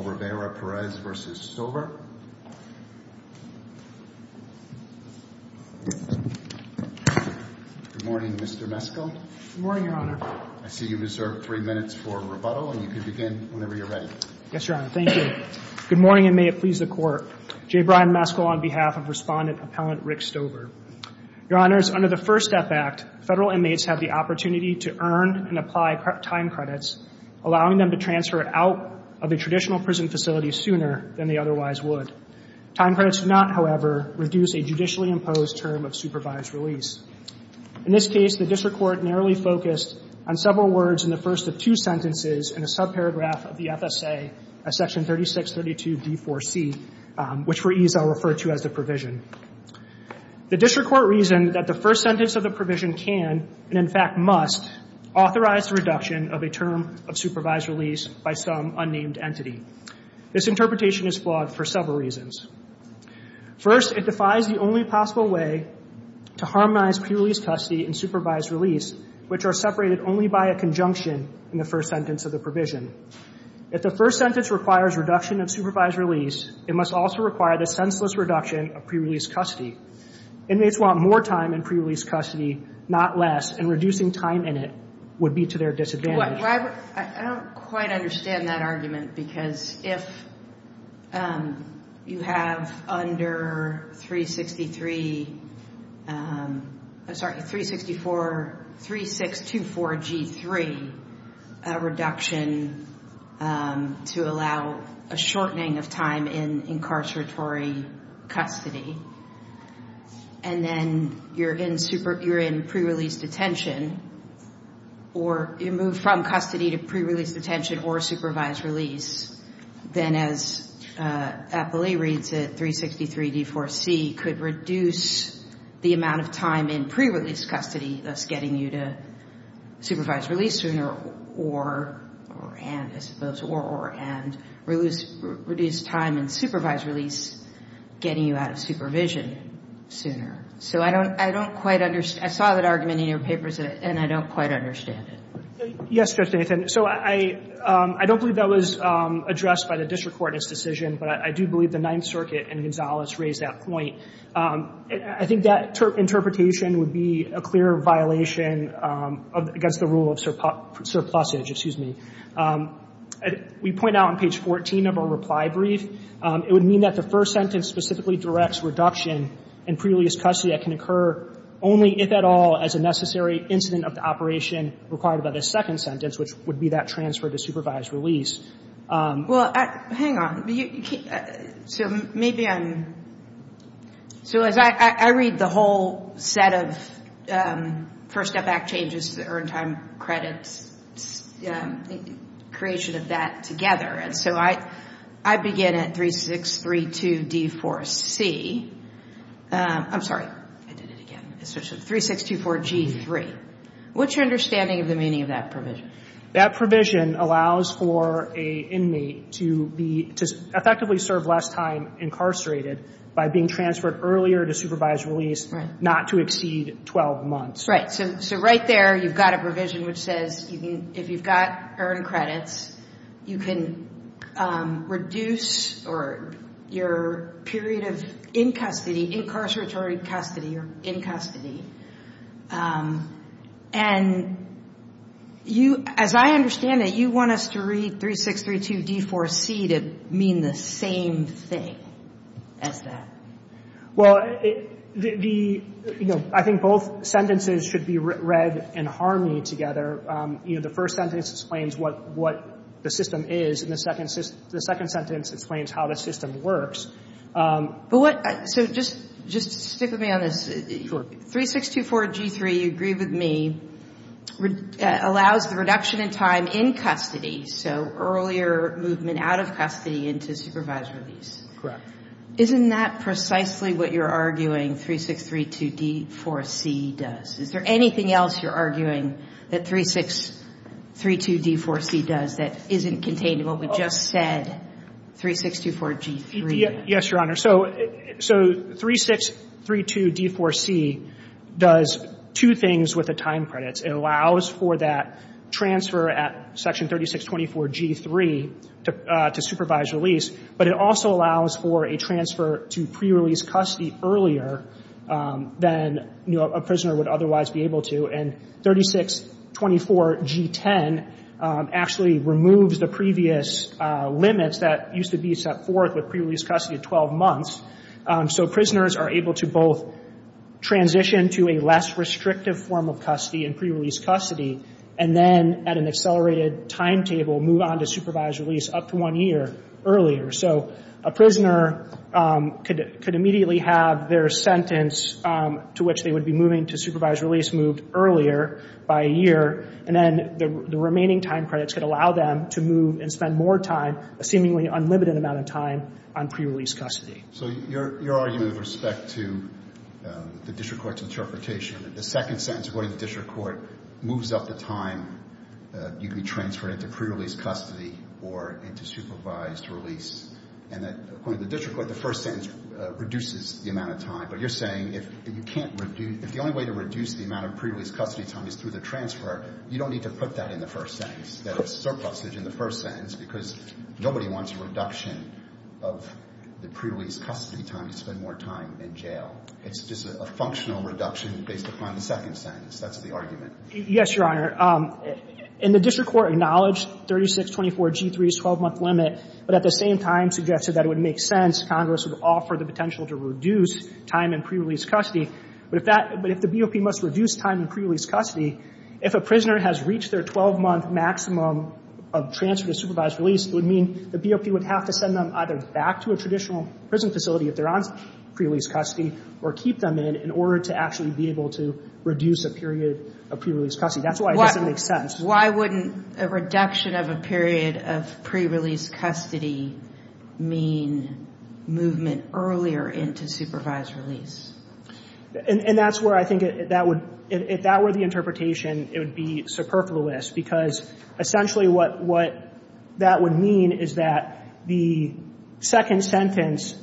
Good morning, Mr. Meskel. Good morning, Your Honor. I see you reserve three minutes for rebuttal and you can begin whenever you're ready. Yes, Your Honor. Thank you. Good morning and may it please the Court. J. Brian Meskel on behalf of Respondent Appellant Rick Stover. Your Honors, under the First Step Act, federal inmates have the opportunity to earn and apply time credits, allowing them to transfer it out of a traditional prison facility sooner than they otherwise would. Time credits do not, however, reduce a judicially imposed term of supervised release. In this case, the district court narrowly focused on several words in the first of two sentences in a subparagraph of the FSA, section 3632d4c, which for ease I'll refer to as the provision. The district court reasoned that the first sentence of the provision can, and in fact must, authorize the reduction of a term of supervised release by some unnamed entity. This interpretation is flawed for several reasons. First, it defies the only possible way to harmonize pre-release custody and supervised release, which are separated only by a conjunction in the first sentence of the provision. If the first sentence requires reduction of supervised release, it must also require the senseless reduction of pre-release custody. Inmates want more time in pre-release custody, not less, and reducing time in it would be to their disadvantage. I don't quite understand that argument, because if you have under 363, I'm sorry, 364, 3624G3 reduction to allow a shortening of time in incarceratory custody, and then you're in pre-release detention, or you move from custody to pre-release detention or supervised release, then as APLE reads it, 363d4c could reduce the amount of time in pre-release custody, thus getting you to supervised release sooner, or, and, I suppose, or, or, and reduce time in supervised release, getting you out of supervision sooner. So I don't, I don't quite understand. I saw that argument in your papers, and I don't quite understand it. Yes, Judge Nathan. So I, I don't believe that was addressed by the district court in its decision, but I do believe the Ninth Circuit and Gonzalez raised that point. I think that interpretation would be a clear violation of, against the rule of surplusage, excuse me. We point out on page 14 of our reply brief, it would mean that the first sentence specifically directs reduction in pre-release custody that can occur only, if at all, as a necessary incident of the operation required by the second sentence, which would be that transfer to supervised release. Well, hang on. So maybe I'm, so as I, I read the whole set of First Step Act changes to the earned time credits, creation of that together, and so I, I begin at 3632d4c. I'm sorry. I did it again. 3624g3. What's your understanding of the meaning of that provision? That provision allows for a inmate to be, to effectively serve less time incarcerated by being transferred earlier to supervised release, not to exceed 12 months. Right. So, so right there you've got a provision which says you can, if you've got earned credits, you can reduce, or your period of in custody, incarceratory custody, or in custody, and you, as I understand it, you want us to read 3632d4c to mean the same thing as that. Well, the, you know, I think both sentences should be read in harmony together. You know, the first sentence explains what, what the system is, and the second, the second sentence explains how the system works. But what, so just, just stick with me on this. 3624g3, you agree with me, allows the reduction in time in custody, so earlier movement out of custody into supervised release. Correct. Isn't that precisely what you're arguing 3632d4c does? Is there anything else you're arguing that 3632d4c does that isn't contained in what we just said, 3624g3? Yes, Your Honor. So, so 3632d4c does two things with the time credits. It allows for that transfer at section 3624g3 to, to supervised release, but it also allows for a transfer to pre-release custody earlier than, you know, a prisoner would otherwise be able to, and 3624g10 actually removes the previous limits that used to be set forth with pre-release custody at 12 months. So prisoners are able to both transition to a less restrictive form of custody in pre-release custody, and then at an accelerated timetable move on to supervised release up to one year earlier. So a prisoner could, could immediately have their sentence to which they would be moving to supervised release moved earlier by a year, and then the remaining time credits could allow them to move and spend more time, a seemingly unlimited amount of time, on pre-release custody. So your, your argument with respect to the district court's interpretation of it, the second sentence according to the district court moves up the time you could be transferred into pre-release custody or into supervised release, and that, according to the district court, the first sentence reduces the amount of time. But you're saying if you can't reduce, if the only way to reduce the amount of pre-release custody time is through the transfer, you don't need to put that in the first sentence, that it's surplusage in the first sentence, because nobody wants a reduction of the pre-release custody time to spend more time in jail. It's just a, a functional reduction based upon the second sentence. That's the argument. Yes, Your Honor. In the district court acknowledged 3624G3's 12-month limit, but at the same time suggested that it would make sense, Congress would offer the potential to reduce time in pre-release custody. But if that, but if the BOP must reduce time in pre-release custody, if a prisoner has reached their 12-month maximum of transfer to supervised release, it would mean the BOP would have to send them either back to a traditional prison facility if they're on pre-release custody, or keep them in, in order to actually be able to reduce a period of pre-release custody. That's why it doesn't make sense. Why wouldn't a reduction of a period of pre-release custody mean movement earlier into supervised release? And, and that's where I think that would, if that were the interpretation, it would be superfluous, because essentially what, what that would mean is that the second sentence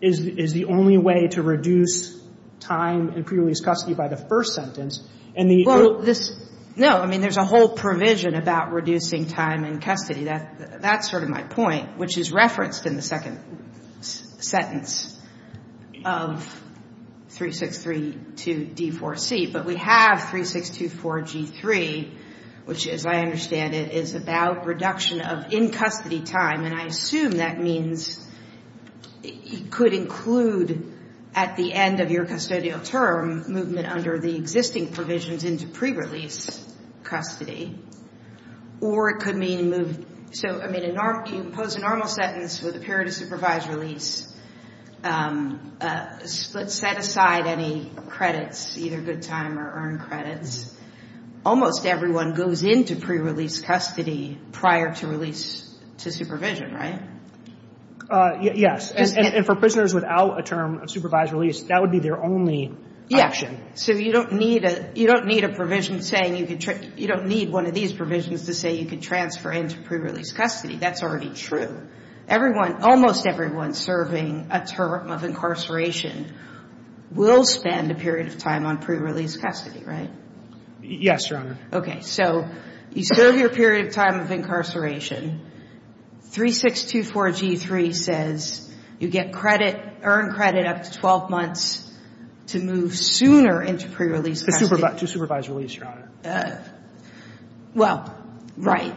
is, is the only way to reduce time in pre-release custody by the first sentence. And the other... Well, this, no, I mean, there's a whole provision about reducing time in custody. That, that's sort of my point, which is referenced in the second sentence of the 3632D4C, but we have 3624G3, which, as I understand it, is about reduction of in-custody time. And I assume that means it could include, at the end of your custodial term, movement under the existing provisions into pre-release custody. Or it could mean move... So, I mean, a norm, you impose a normal sentence with a period of supervised release. Let's set aside any credits, either good time or earned credits. Almost everyone goes into pre-release custody prior to release to supervision, right? Yes. And for prisoners without a term of supervised release, that would be their only option. So you don't need a, you don't need a provision saying you could, you don't need one of these provisions to say you could transfer into pre-release custody. That's already true. Everyone, almost everyone serving a term of incarceration will spend a period of time on pre-release custody, right? Yes, Your Honor. Okay. So you serve your period of time of incarceration. 3624G3 says you get credit, earned credit up to 12 months to move sooner into pre-release custody. To supervised release, Your Honor. Well, right.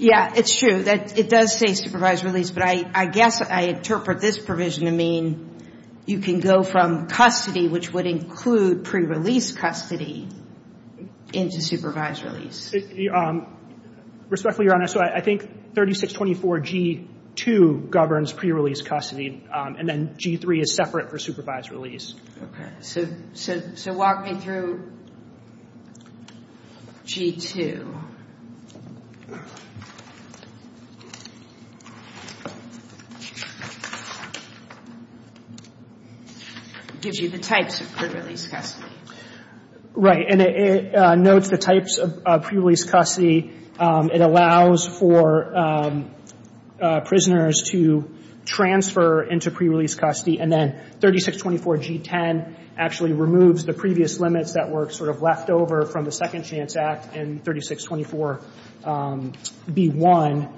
Yeah, it's true that it does say supervised release, but I guess I interpret this provision to mean you can go from custody, which would include pre-release custody, into supervised release. Respectfully, Your Honor, so I think 3624G2 governs pre-release custody, and then G3 is separate for supervised release. Okay. So, so, so walk me through G2. Gives you the types of pre-release custody. Right. And it notes the types of pre-release custody. It allows for prisoners to transfer into pre-release custody, and then 3624G10 actually removes the previous limits that were sort of left over from the Second Chance Act in 3624B1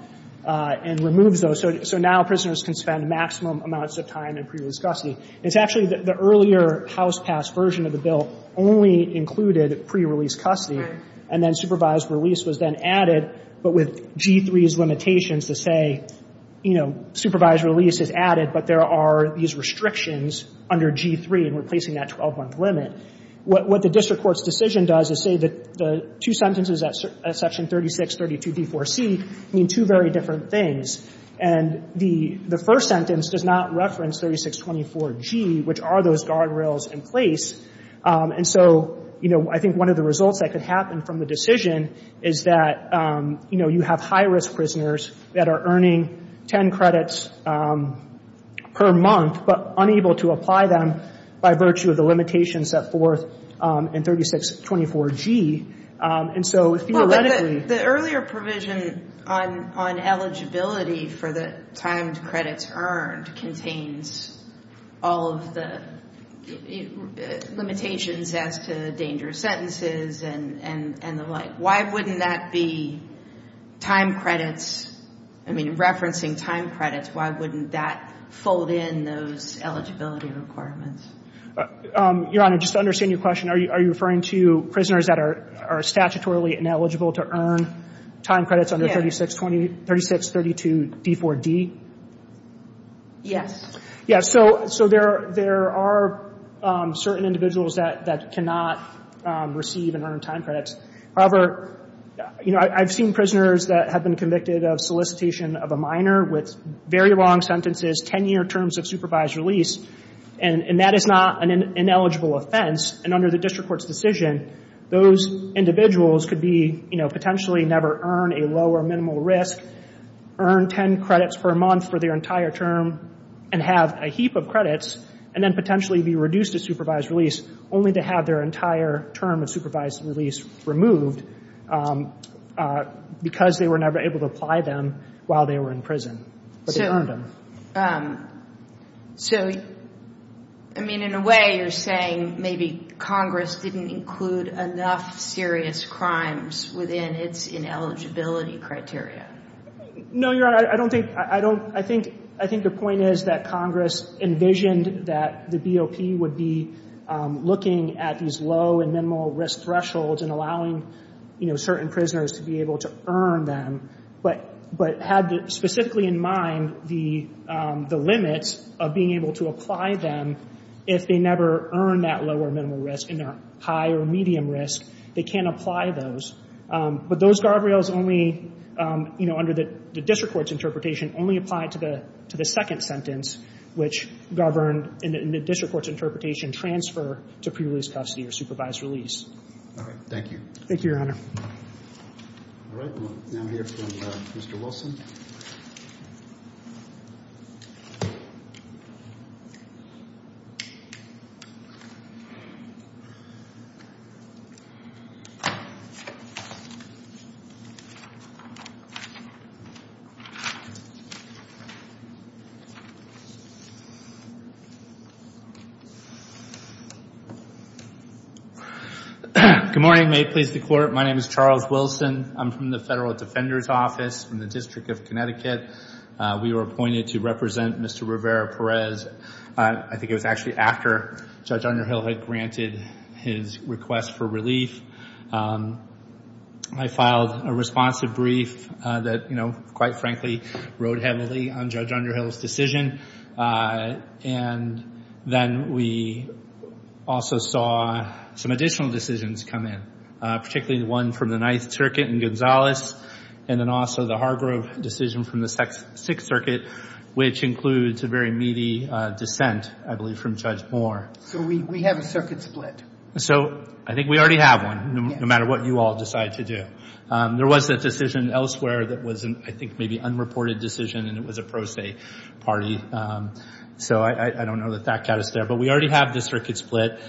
and removes those. So, so now prisoners can spend maximum amounts of time in pre-release custody. It's actually the, the earlier House-passed version of the bill only included pre-release custody, and then supervised release was then added, but with G3's limitations to say, you know, supervised release is added, but there are these restrictions under G3 in replacing that 12-month limit. What, what the district court's decision does is say that the two sentences at Section 3632D4C mean two very different things. And the, the first sentence does not reference 3624G, which are those guardrails in place. And so, you know, I think one of the results that could happen from the decision is that, you know, you have high-risk prisoners that are earning 10 credits per month, but unable to apply them by virtue of the limitations set forth in 3624G. And so, theoretically The earlier provision on, on eligibility for the timed credits earned contains all of the limitations as to dangerous sentences and, and, and the like. Why wouldn't that be time credits? I mean, referencing time credits, why wouldn't that fold in those eligibility requirements? Your Honor, just to understand your question, are you, are you referring to prisoners that are, are statutorily ineligible to earn time credits under 3620, 3632D4D? Yes. Yeah. So, so there, there are certain individuals that, that cannot receive and earn time credits. However, you know, I've seen prisoners that have been convicted of solicitation of a minor with very long sentences, 10-year terms of supervised release, and, and that is not an ineligible offense. And under the district court's decision, those individuals could be, you know, potentially never earn a low or minimal risk, earn 10 credits per month for their entire term, and have a heap of credits, and then potentially be reduced to supervised release, only to have their entire term of supervised release removed because they were never able to apply them while they were in prison, but they earned them. So, so, I mean, in a way, you're saying maybe Congress didn't include enough serious crimes within its ineligibility criteria. No, you're, I don't think, I don't, I think, I think the point is that Congress envisioned that the BOP would be looking at these low and minimal risk thresholds and allowing, you know, certain prisoners to be able to earn them, but, but had specifically in mind the, the limits of being able to apply them if they never earn that low or minimal risk, and they're high or medium risk, they can apply those. But those guardrails only, you know, under the district court's interpretation, only apply to the, to the second sentence, which governed in the district court's interpretation, transfer to pre-release custody or supervised release. All right. Thank you. Thank you, Your Honor. All right. We'll now hear from Mr. Wilson. Good morning. May it please the Court. My name is Charles Wilson. I'm from the Federal Defender's Office in the District of Connecticut. We were appointed to represent Mr. Rivera-Perez. I think it was actually after Judge Underhill had granted his request for relief. I filed a responsive brief that, you know, quite frankly, rode heavily on Judge Underhill's decision. And then we also saw some additional decisions come in, particularly the one from the Ninth Circuit in Gonzales, and then also the Hargrove decision from the Sixth Circuit, which includes a very meaty dissent, I believe, from Judge Moore. So we have a circuit split. So I think we already have one, no matter what you all decide to do. There was a decision elsewhere that was, I think, maybe an unreported decision, and it was a pro se party. So I don't know that that got us there. But we already have the circuit split.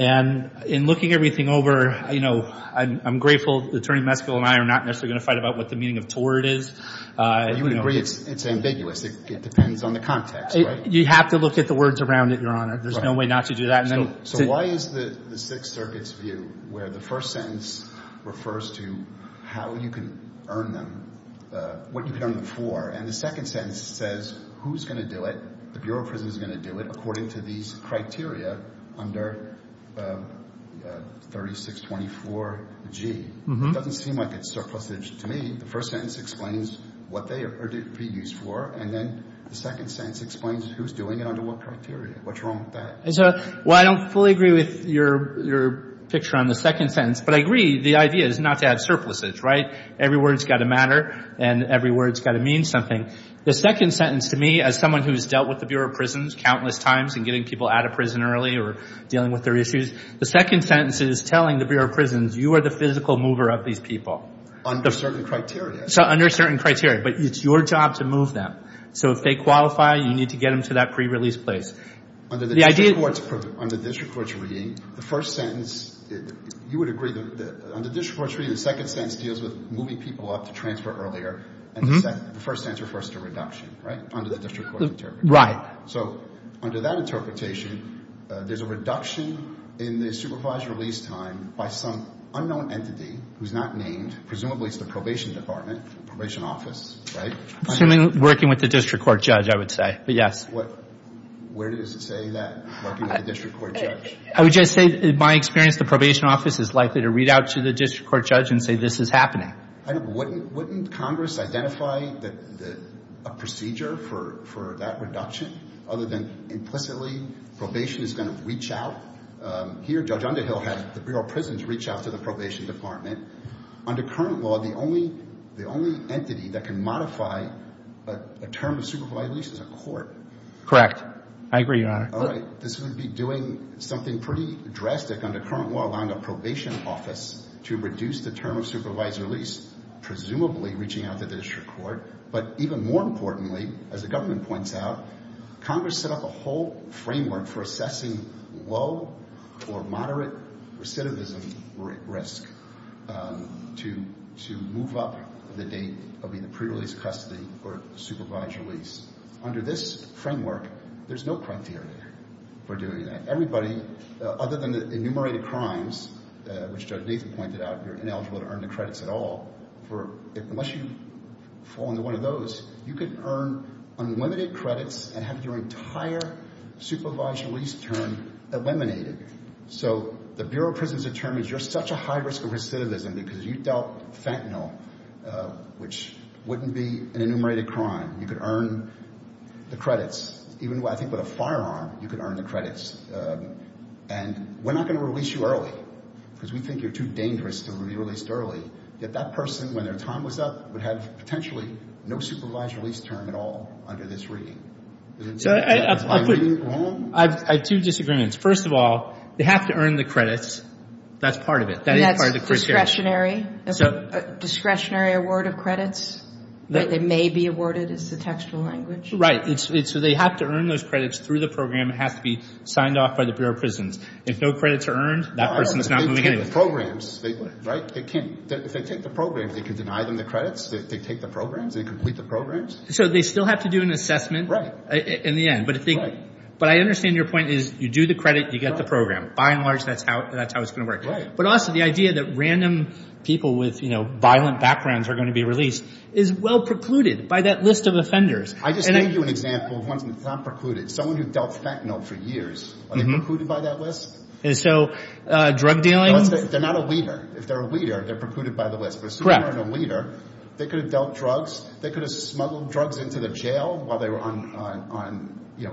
And in looking everything over, you know, I'm grateful Attorney Meskel and I are not necessarily going to fight about what the meaning of tort is. But you would agree it's ambiguous. It depends on the context, right? You have to look at the words around it, Your Honor. There's no way not to do that. So why is the Sixth Circuit's view where the first sentence refers to how you can earn them, what you can earn them for, and the second sentence says who's going to do it, the Bureau of Prisons is going to do it according to these criteria under 3624G? It doesn't seem like it's surplusage to me. The first sentence explains what they are to be used for, and then the second sentence explains who's doing it under what criteria. What's wrong with that? Well, I don't fully agree with your picture on the second sentence, but I agree the idea is not to have surplusage, right? Every word's got to matter, and every word's got to mean something. The second sentence to me, as someone who's dealt with the Bureau of Prisons countless times and getting people out of prison early or dealing with their issues, the second sentence is telling the Bureau of Prisons you are the physical mover of these people. Under certain criteria. So under certain criteria. But it's your job to move them. So if they qualify, you need to get them to that pre-release place. Under the district court's reading, the first sentence, you would agree that under district court's reading, the second sentence deals with moving people up to transfer earlier, and the first sentence refers to reduction, right? Under the district court's interpretation. Right. So under that interpretation, there's a reduction in the supervised release time by some unknown entity who's not named, presumably it's the probation department, probation office, right? Assuming working with the district court judge, I would say. But yes. Where does it say that, working with the district court judge? I would just say, in my experience, the probation office is likely to read out to the district court judge and say this is happening. Wouldn't Congress identify a procedure for that reduction other than implicitly probation is going to reach out? Here, Judge Underhill had the Bureau of Prisons reach out to the probation department. Under current law, the only entity that can modify a term of supervised release is a court. Correct. I agree, Your Honor. All right. This would be doing something pretty drastic under current law, allowing a probation office to reduce the term of supervised release, presumably reaching out to the district court. But even more importantly, as the government points out, Congress set up a whole framework for assessing low or moderate recidivism risk to move up the date of either pre-release custody or supervised release. Under this framework, there's no criteria for doing that. Everybody, other than the enumerated crimes, which Judge Nathan pointed out, you're ineligible to earn the credits at all. Unless you fall into one of those, you could earn unlimited credits and have your entire supervised release term eliminated. So the Bureau of Prisons determines you're such a high risk of recidivism because you dealt fentanyl, which wouldn't be an enumerated crime. You could earn the credits. Even, I think, with a firearm, you could earn the credits. And we're not going to release you early because we think you're too dangerous to be released early. Yet that person, when their time was up, would have potentially no supervised release term at all under this reading. Is my reading wrong? I have two disagreements. First of all, they have to earn the credits. That's part of it. That's discretionary? A discretionary award of credits that may be awarded is the textual language? Right. So they have to earn those credits through the program. It has to be signed off by the Bureau of Prisons. If no credits are earned, that person's not moving in. If they take the program, they can deny them the credits? They take the programs? They complete the programs? So they still have to do an assessment in the end. But I understand your point is you do the credit, you get the program. By and large, that's how it's going to work. But also the idea that random people with violent backgrounds are going to be released is well precluded by that list of offenders. I just gave you an example of one that's not precluded. Someone who dealt fentanyl for years, are they precluded by that list? And so drug dealing? They're not a leader. If they're a leader, they're precluded by the list. But assuming they weren't a leader, they could have dealt drugs. They could have smuggled drugs into the jail while they were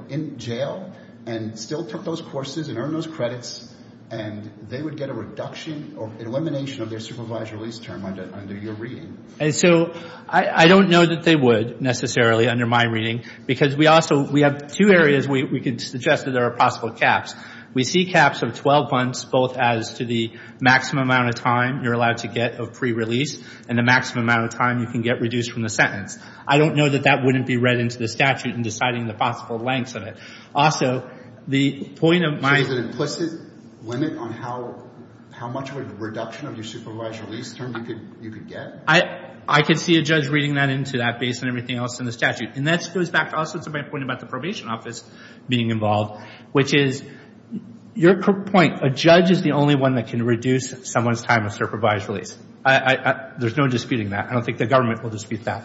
in jail and still took those courses and earned those credits. And they would get a reduction or elimination of their supervised release term under your reading. And so I don't know that they would, necessarily, under my reading. Because we also, we have two areas we could suggest that there are possible caps. We see caps of 12 months, both as to the maximum amount of time you're allowed to get of pre-release and the maximum amount of time you can get reduced from the sentence. I don't know that that wouldn't be read into the statute in deciding the possible lengths of it. Also, the point of my... Is there an implicit limit on how much of a reduction of your supervised release term you could get? I could see a judge reading that into that based on everything else in the statute. And that goes back also to my point about the probation office being involved. Which is, your point, a judge is the only one that can reduce someone's time of supervised release. There's no disputing that. I don't think the government will dispute that.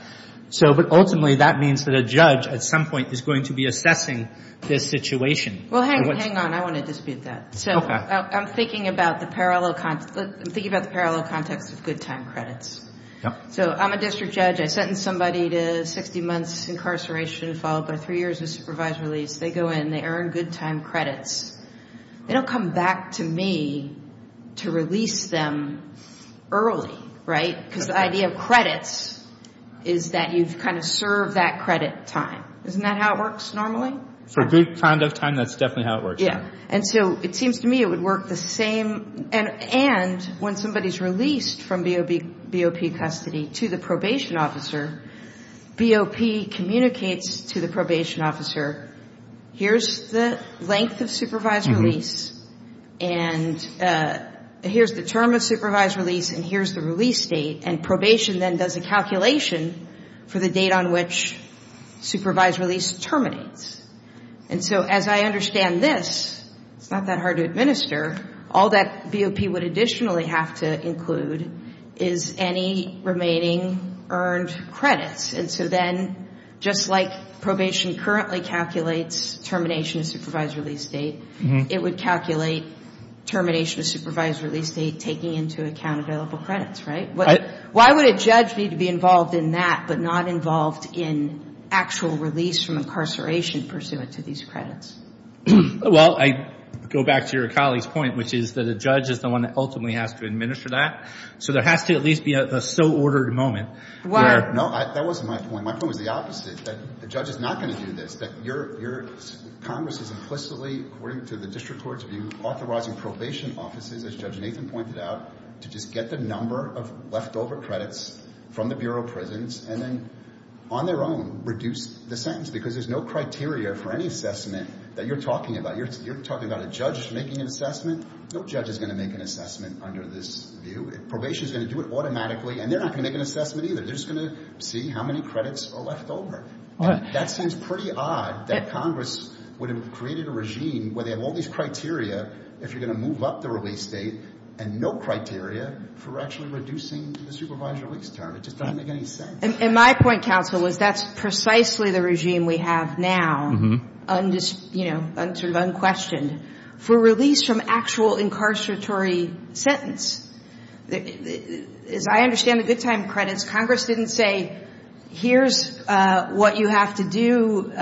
So, but ultimately, that means that a judge, at some point, is going to be assessing this situation. Well, hang on. I want to dispute that. So, I'm thinking about the parallel context of good time credits. So, I'm a district judge. I sentence somebody to 60 months incarceration followed by three years of supervised release. They go in, they earn good time credits. They don't come back to me to release them early, right? Because the idea of credits is that you've kind of served that credit time. Isn't that how it works normally? So, good kind of time, that's definitely how it works. Yeah. And so, it seems to me it would work the same. And when somebody's released from BOP custody to the probation officer, BOP communicates to the probation officer, here's the length of supervised release, and here's the term of supervised release, and here's the release date. And probation then does a calculation for the date on which supervised release terminates. And so, as I understand this, it's not that hard to administer. All that BOP would additionally have to include is any remaining earned credits. And so then, just like probation currently calculates termination of supervised release date, it would calculate termination of supervised release date taking into account available credits, right? Why would a judge need to be involved in that but not involved in actual release from incarceration pursuant to these credits? Well, I go back to your colleague's point, which is that a judge is the one that ultimately has to administer that. So, there has to at least be a so-ordered moment. No, that wasn't my point. My point was the opposite, that the judge is not going to do this. That your Congress is implicitly, according to the district court's view, authorizing probation offices, as Judge Nathan pointed out, to just get the number of leftover credits from the Bureau of Prisons and then, on their own, reduce the sentence. Because there's no criteria for any assessment that you're talking about. You're talking about a judge making an assessment. No judge is going to make an assessment under this view. Probation is going to do it automatically, and they're not going to make an assessment either. They're just going to see how many credits are left over. That seems pretty odd, that Congress would have created a regime where they have all these criteria if you're going to move up the release date, and no criteria for actually reducing the supervised release term. It just doesn't make any sense. And my point, counsel, is that's precisely the regime we have now, sort of unquestioned, for release from actual incarceratory sentence. As I understand the good time credits, Congress didn't say, here's what you have to do.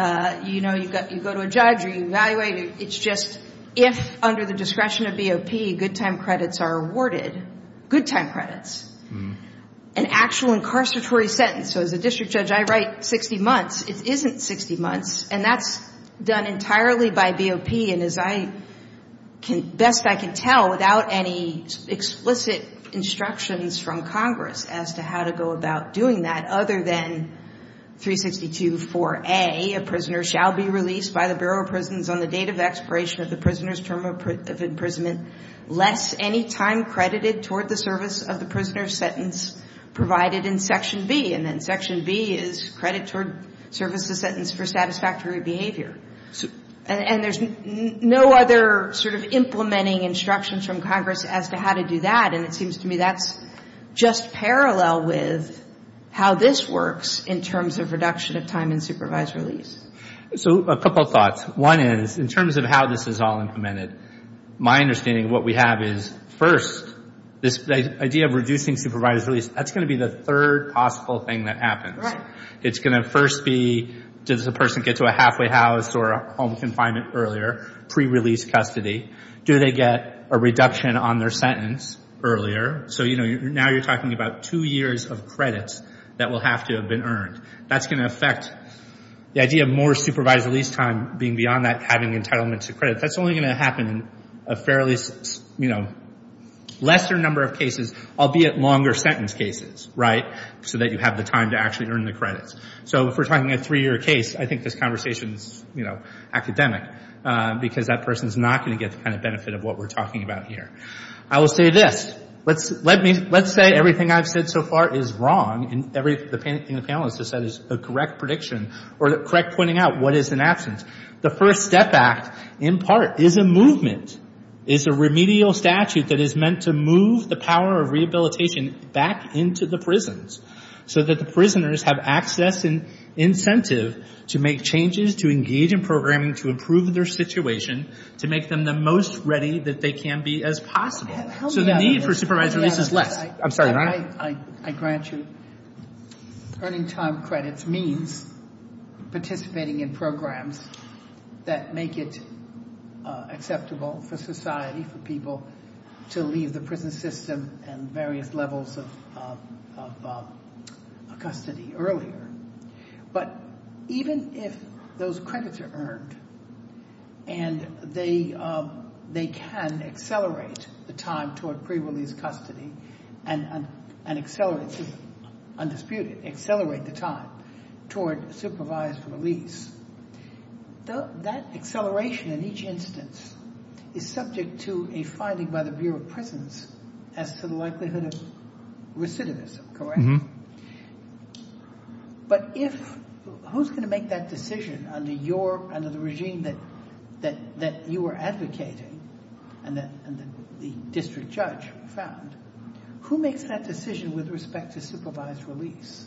You know, you go to a judge, or you evaluate. It's just if, under the discretion of BOP, good time credits are awarded. Good time credits. An actual incarceratory sentence. So as a district judge, I write 60 months. It isn't 60 months, and that's done entirely by BOP. And as best I can tell, without any explicit instructions from Congress as to how to go about doing that, other than 362.4a, a prisoner shall be released by the Bureau of Prisons on the date of expiration of the prisoner's term of imprisonment, less any time credited toward the service of the prisoner's sentence provided in Section B. And then Section B is credit toward service of sentence for satisfactory behavior. And there's no other sort of implementing instructions from Congress as to how to do that. And it seems to me that's just parallel with how this works in terms of reduction of time in supervised release. So a couple thoughts. One is, in terms of how this is all implemented, my understanding of what we have is, first, this idea of reducing supervised release, that's going to be the third possible thing that happens. It's going to first be, does the person get to a halfway house or a home confinement earlier, pre-release custody? Do they get a reduction on their sentence earlier? So now you're talking about two years of credits that will have to have been earned. That's going to affect the idea of more supervised release time being beyond that having entitlement to credit. That's only going to happen in a lesser number of cases, albeit longer sentence cases, so that you have the time to actually earn the credits. So if we're talking a three-year case, I think this conversation is academic, because that person is not going to get the benefit of what we're talking about here. I will say this. Let's say everything I've said so far is wrong, and everything the panelists have said is a correct prediction, or correct pointing out what is an absence. The FIRST STEP Act, in part, is a movement, is a remedial statute that is meant to move the power of rehabilitation back into the prisons, so that the prisoners have access and incentive to make changes, to engage in programming, to improve their situation, to make them the most ready that they can be as possible. So the need for supervised release is less. I'm sorry. I grant you. Earning time credits means participating in programs that make it acceptable for society, for people, to leave the prison system and various levels of custody earlier. But even if those credits are earned, and they can accelerate the time toward pre-release custody, and accelerate the time toward supervised release, that acceleration in each instance is subject to a finding by the Bureau of Prisons as to the likelihood of recidivism, correct? But who's going to make that decision under the regime that you are advocating, and that the district judge found? Who makes that decision with respect to supervised release?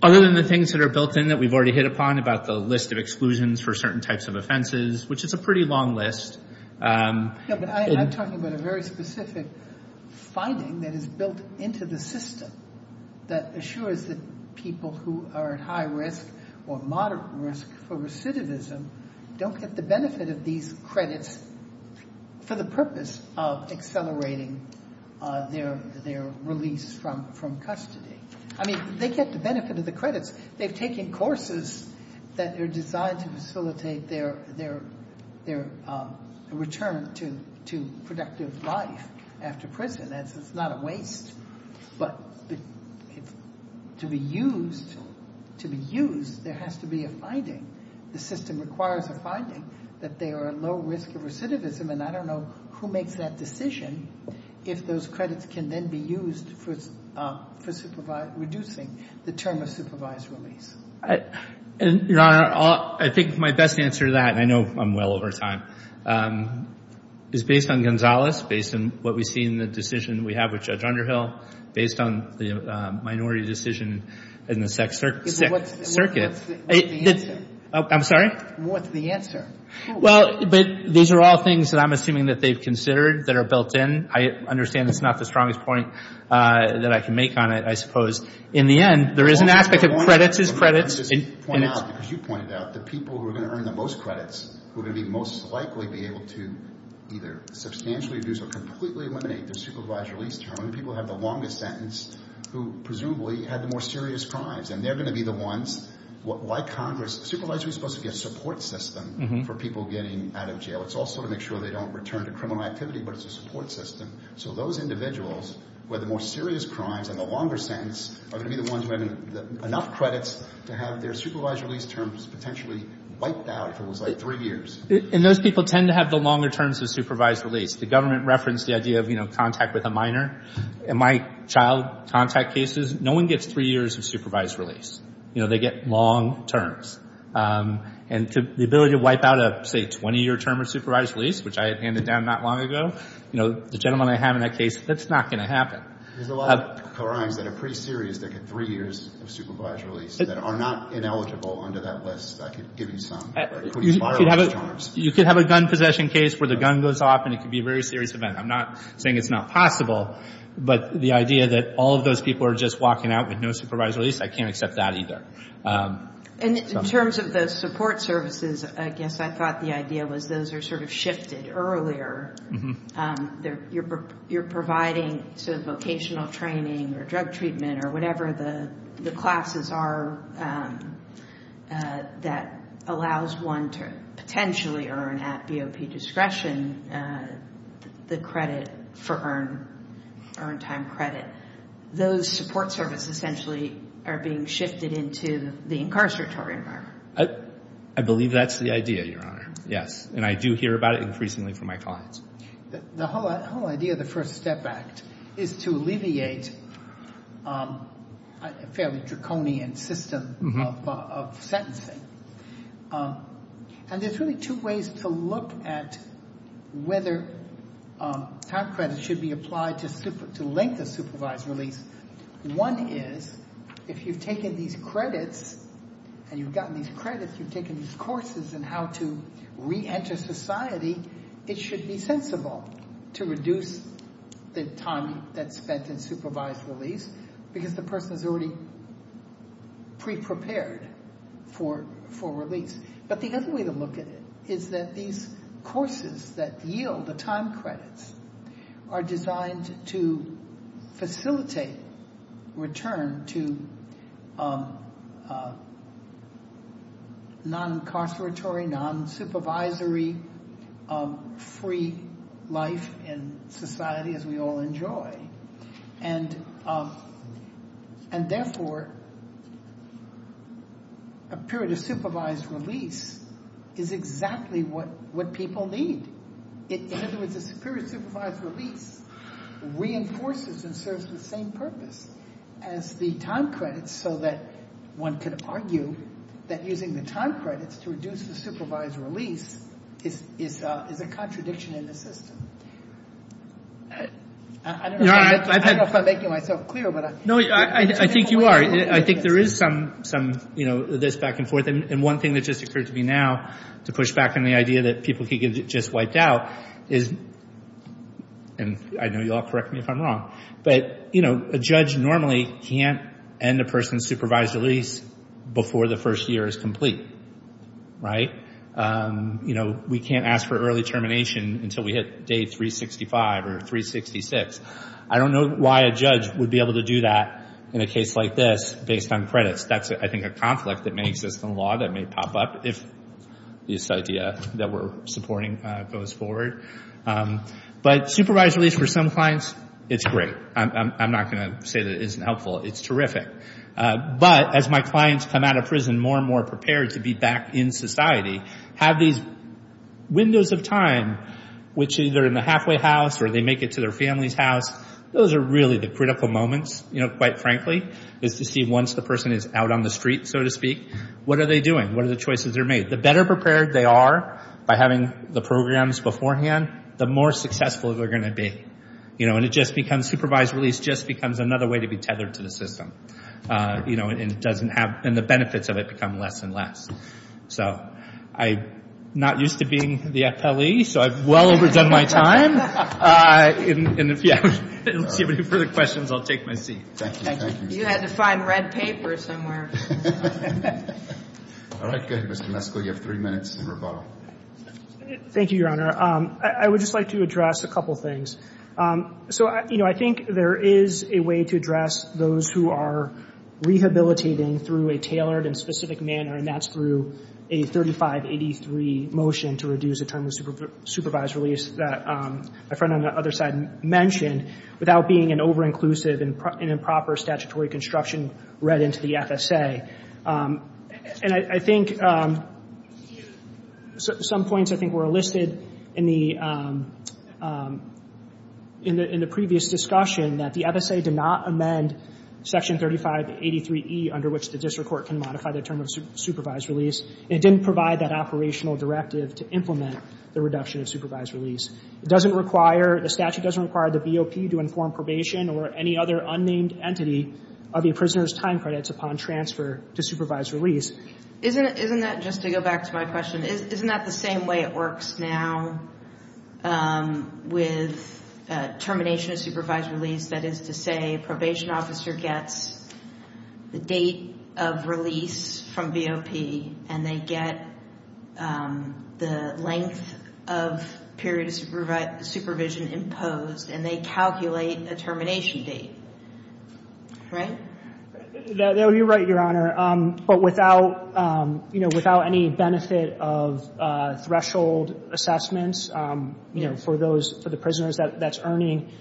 Other than the things that are built in that we've already hit upon, about the list of exclusions for certain types of offenses, which is a pretty long list. I'm talking about a very specific finding that is built into the system that assures that people who are at high risk or moderate risk for recidivism don't get the benefit of these credits for the purpose of accelerating their release from custody. I mean, they get the benefit of the credits. They've taken courses that are designed to facilitate their return to productive life after prison. It's not a waste. But to be used, there has to be a finding. The system requires a finding that they are at low risk of recidivism, and I don't know who makes that decision if those credits can then be used for reducing the term of supervised release. Your Honor, I think my best answer to that, and I know I'm well over time, is based on Gonzales, based on what we see in the decision we have with Judge Underhill, based on the minority decision in the sex circuit. What's the answer? I'm sorry? What's the answer? Well, these are all things that I'm assuming that they've considered that are built in. I understand it's not the strongest point that I can make on it, I suppose. In the end, there is an aspect of credits is credits. I just want to point out, because you pointed out, the people who are going to earn the most credits will most likely be able to either substantially reduce or completely eliminate their supervised release term. People who have the longest sentence, who presumably had the more serious crimes, and they're going to be the ones, like Congress, a supervisory is supposed to be a support system for people getting out of jail. It's also to make sure they don't return to criminal activity, but it's a support system. So those individuals with the more serious crimes and the longer sentence are going to be the ones who have enough credits to have their supervised release terms potentially wiped out for what looks like three years. And those people tend to have the longer terms of supervised release. The government referenced the idea of contact with a minor. In my child contact cases, no one gets three years of supervised release. You know, they get long terms. And the ability to wipe out a, say, 20-year term of supervised release, which I had handed down not long ago, you know, the gentleman I have in that case, that's not going to happen. There's a lot of crimes that are pretty serious that get three years of supervised release that are not ineligible under that list, I could give you some. You could have a gun possession case where the gun goes off and it could be a very serious event. I'm not saying it's not possible, but the idea that all of those people are just walking out with no supervised release, I can't accept that either. And in terms of those support services, I guess I thought the idea was those are sort of shifted earlier. You're providing sort of vocational training or drug treatment or whatever the classes are that allows one to potentially earn at BOP discretion the credit for earned time credit. Those support services essentially are being shifted into the incarceratory environment. I believe that's the idea, Your Honor. Yes, and I do hear about it increasingly from my clients. The whole idea of the First Step Act is to alleviate a fairly draconian system of sentencing. And there's really two ways to look at whether time credit should be applied to length of supervised release. One is if you've taken these credits and you've gotten these credits, you've taken these courses in how to reenter society, it should be sensible to reduce the time that's spent in supervised release because the person is already pre-prepared for release. But the other way to look at it is that these courses that yield the time credits are designed to facilitate return to non-incarceratory, non-supervisory, free life in society as we all enjoy. And therefore, a period of supervised release is exactly what people need. In other words, a period of supervised release reinforces and serves the same purpose as the time credits so that one could argue that using the time credits to reduce the supervised release is a contradiction in the system. I don't know if I'm making myself clear. No, I think you are. I think there is some, you know, this back and forth. And one thing that just occurred to me now, to push back on the idea that people could get just wiped out is, and I know you'll correct me if I'm wrong, but a judge normally can't end a person's supervised release before the first year is complete, right? We can't ask for early termination until we hit day 365 or 366. I don't know why a judge would be able to do that in a case like this based on credits. That's, I think, a conflict that may exist in the law that may pop up. If this idea that we're supporting goes forward. But supervised release for some clients, it's great. I'm not going to say that it isn't helpful. It's terrific. But as my clients come out of prison more and more prepared to be back in society, have these windows of time which either in the halfway house or they make it to their family's house, those are really the critical moments, you know, quite frankly, is to see once the person is out on the street, so to speak, what are they doing? What are the choices they're making? The better prepared they are by having the programs beforehand, the more successful they're going to be. You know, and it just becomes, supervised release just becomes another way to be tethered to the system. You know, and it doesn't have, and the benefits of it become less and less. So I'm not used to being the appellee, so I've well overdone my time. And if you have any further questions, I'll take my seat. Thank you. You had to find red paper somewhere. All right. Go ahead, Mr. Meskel. You have three minutes to rebuttal. Thank you, Your Honor. I would just like to address a couple things. So, you know, I think there is a way to address those who are rehabilitating through a tailored and specific manner, and that's through a 3583 motion to reduce the term of supervised release that my friend on the other side mentioned without being an over-inclusive and improper statutory construction read into the FSA. And I think some points I think were listed in the previous discussion that the FSA did not amend Section 3583E under which the district court can modify the term of supervised release. It didn't provide that operational directive to implement the reduction of supervised release. It doesn't require, the statute doesn't require the VOP to inform probation or any other unnamed entity of a prisoner's time credits upon transfer to supervised release. Isn't that, just to go back to my question, isn't that the same way it works now with termination of supervised release? That is to say, a probation officer gets the date of release from VOP and they get the length of period of supervision imposed and they calculate a termination date. Right? You're right, Your Honor. But without any benefit of threshold assessments for the prisoners that's earning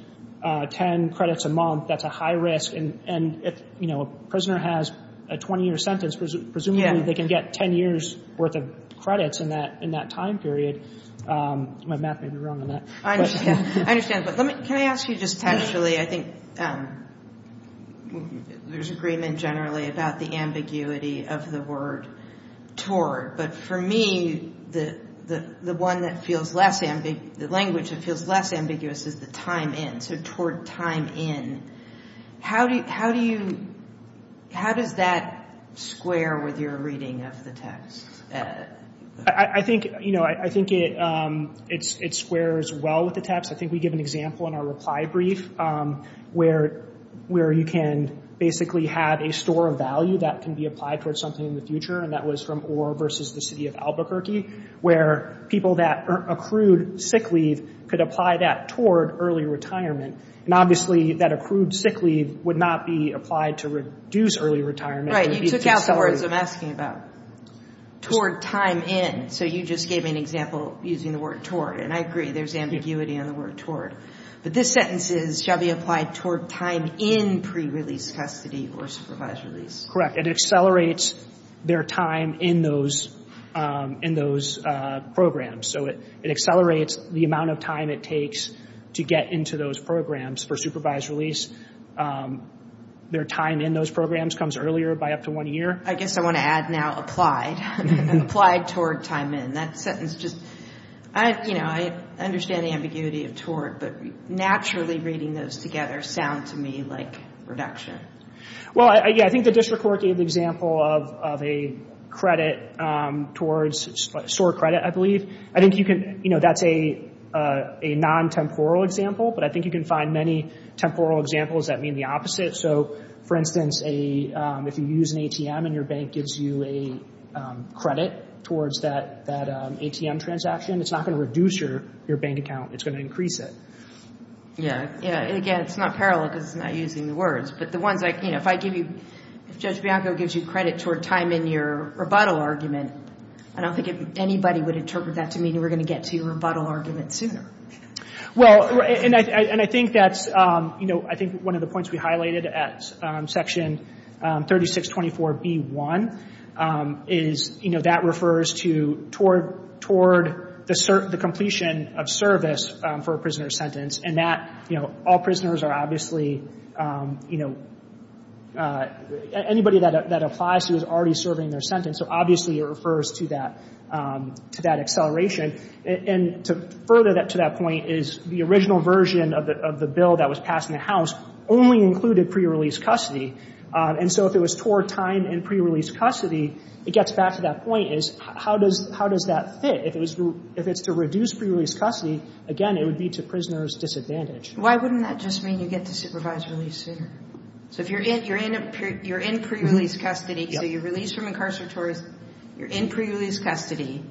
10 credits a month, that's a high risk. And if a prisoner has a 20-year sentence, presumably they can get 10 years' worth of credits in that time period. My math may be wrong on that. I understand. But can I ask you just textually? I think there's agreement generally about the ambiguity of the word toward. But for me, the language that feels less ambiguous is the time in. So toward time in. How does that square with your reading of the text? I think it squares well with the text. I think we give an example in our reply brief where you can basically have a store of value that can be applied towards something in the future. And that was from Orr v. The City of Albuquerque, where people that accrued sick leave could apply that toward early retirement. And obviously, that accrued sick leave would not be applied to reduce early retirement. You took out the words I'm asking about. Toward time in. So you just gave me an example using the word toward. And I agree, there's ambiguity on the word toward. But this sentence is, shall be applied toward time in pre-release custody or supervised release. Correct. It accelerates their time in those programs. So it accelerates the amount of time it takes to get into those programs for supervised release. Their time in those programs comes earlier by up to one year. I guess I want to add now, applied. Applied toward time in. That sentence just, I understand the ambiguity of toward, but naturally reading those together sound to me like reduction. Well, yeah, I think the district court gave the example of a credit towards, store credit, I believe. I think you can, you know, that's a non-temporal example, but I think you can find many temporal examples that mean the opposite. So for instance, if you use an ATM and your bank gives you a credit towards that ATM transaction, it's not going to reduce your bank account. It's going to increase it. Yeah. And again, it's not parallel because it's not using the words. But the ones I, you know, if I give you, if Judge Bianco gives you credit toward time in your rebuttal argument, I don't think anybody would interpret that to mean we're going to get to your rebuttal argument sooner. Well, and I think that's, you know, I think one of the points we highlighted at section 3624B1 is, you know, that refers to toward the completion of service for a prisoner's sentence. And that, you know, all prisoners are obviously, you know, anybody that applies to is already serving their sentence. And so obviously it refers to that, to that acceleration. And to further to that point is the original version of the bill that was passed in the House only included pre-release custody. And so if it was toward time in pre-release custody, it gets back to that point is how does that fit? If it's to reduce pre-release custody, again, it would be to prisoners' disadvantage. Why wouldn't that just mean you get to supervised release sooner? So if you're in pre-release custody, so you're released from incarceratories, you're in pre-release custody,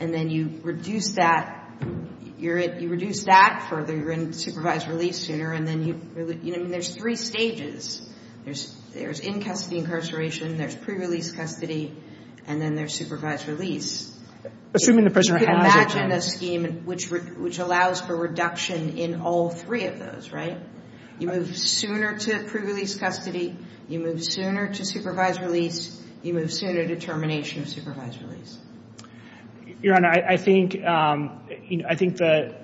and then you reduce that, you reduce that further, you're in supervised release sooner, and then you, you know, there's three stages. There's in-custody incarceration, there's pre-release custody, and then there's supervised release. Assuming the prisoner has it. You can imagine a scheme which allows for reduction in all three of those, right? You move sooner to pre-release custody, you move sooner to supervised release, you move sooner to termination of supervised release. Your Honor, I think, I think the,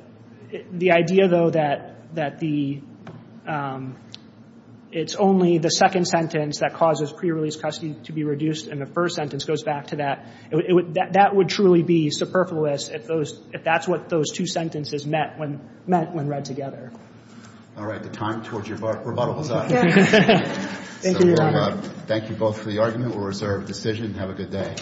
the idea though that, that the, it's only the second sentence that causes pre-release custody to be reduced, and the first sentence goes back to that, that would truly be superfluous if those, if that's what those two sentences meant when, meant when read together. All right, the time towards your rebuttal is up. Thank you, Your Honor. Thank you both for the argument. We'll reserve the decision. Have a good day.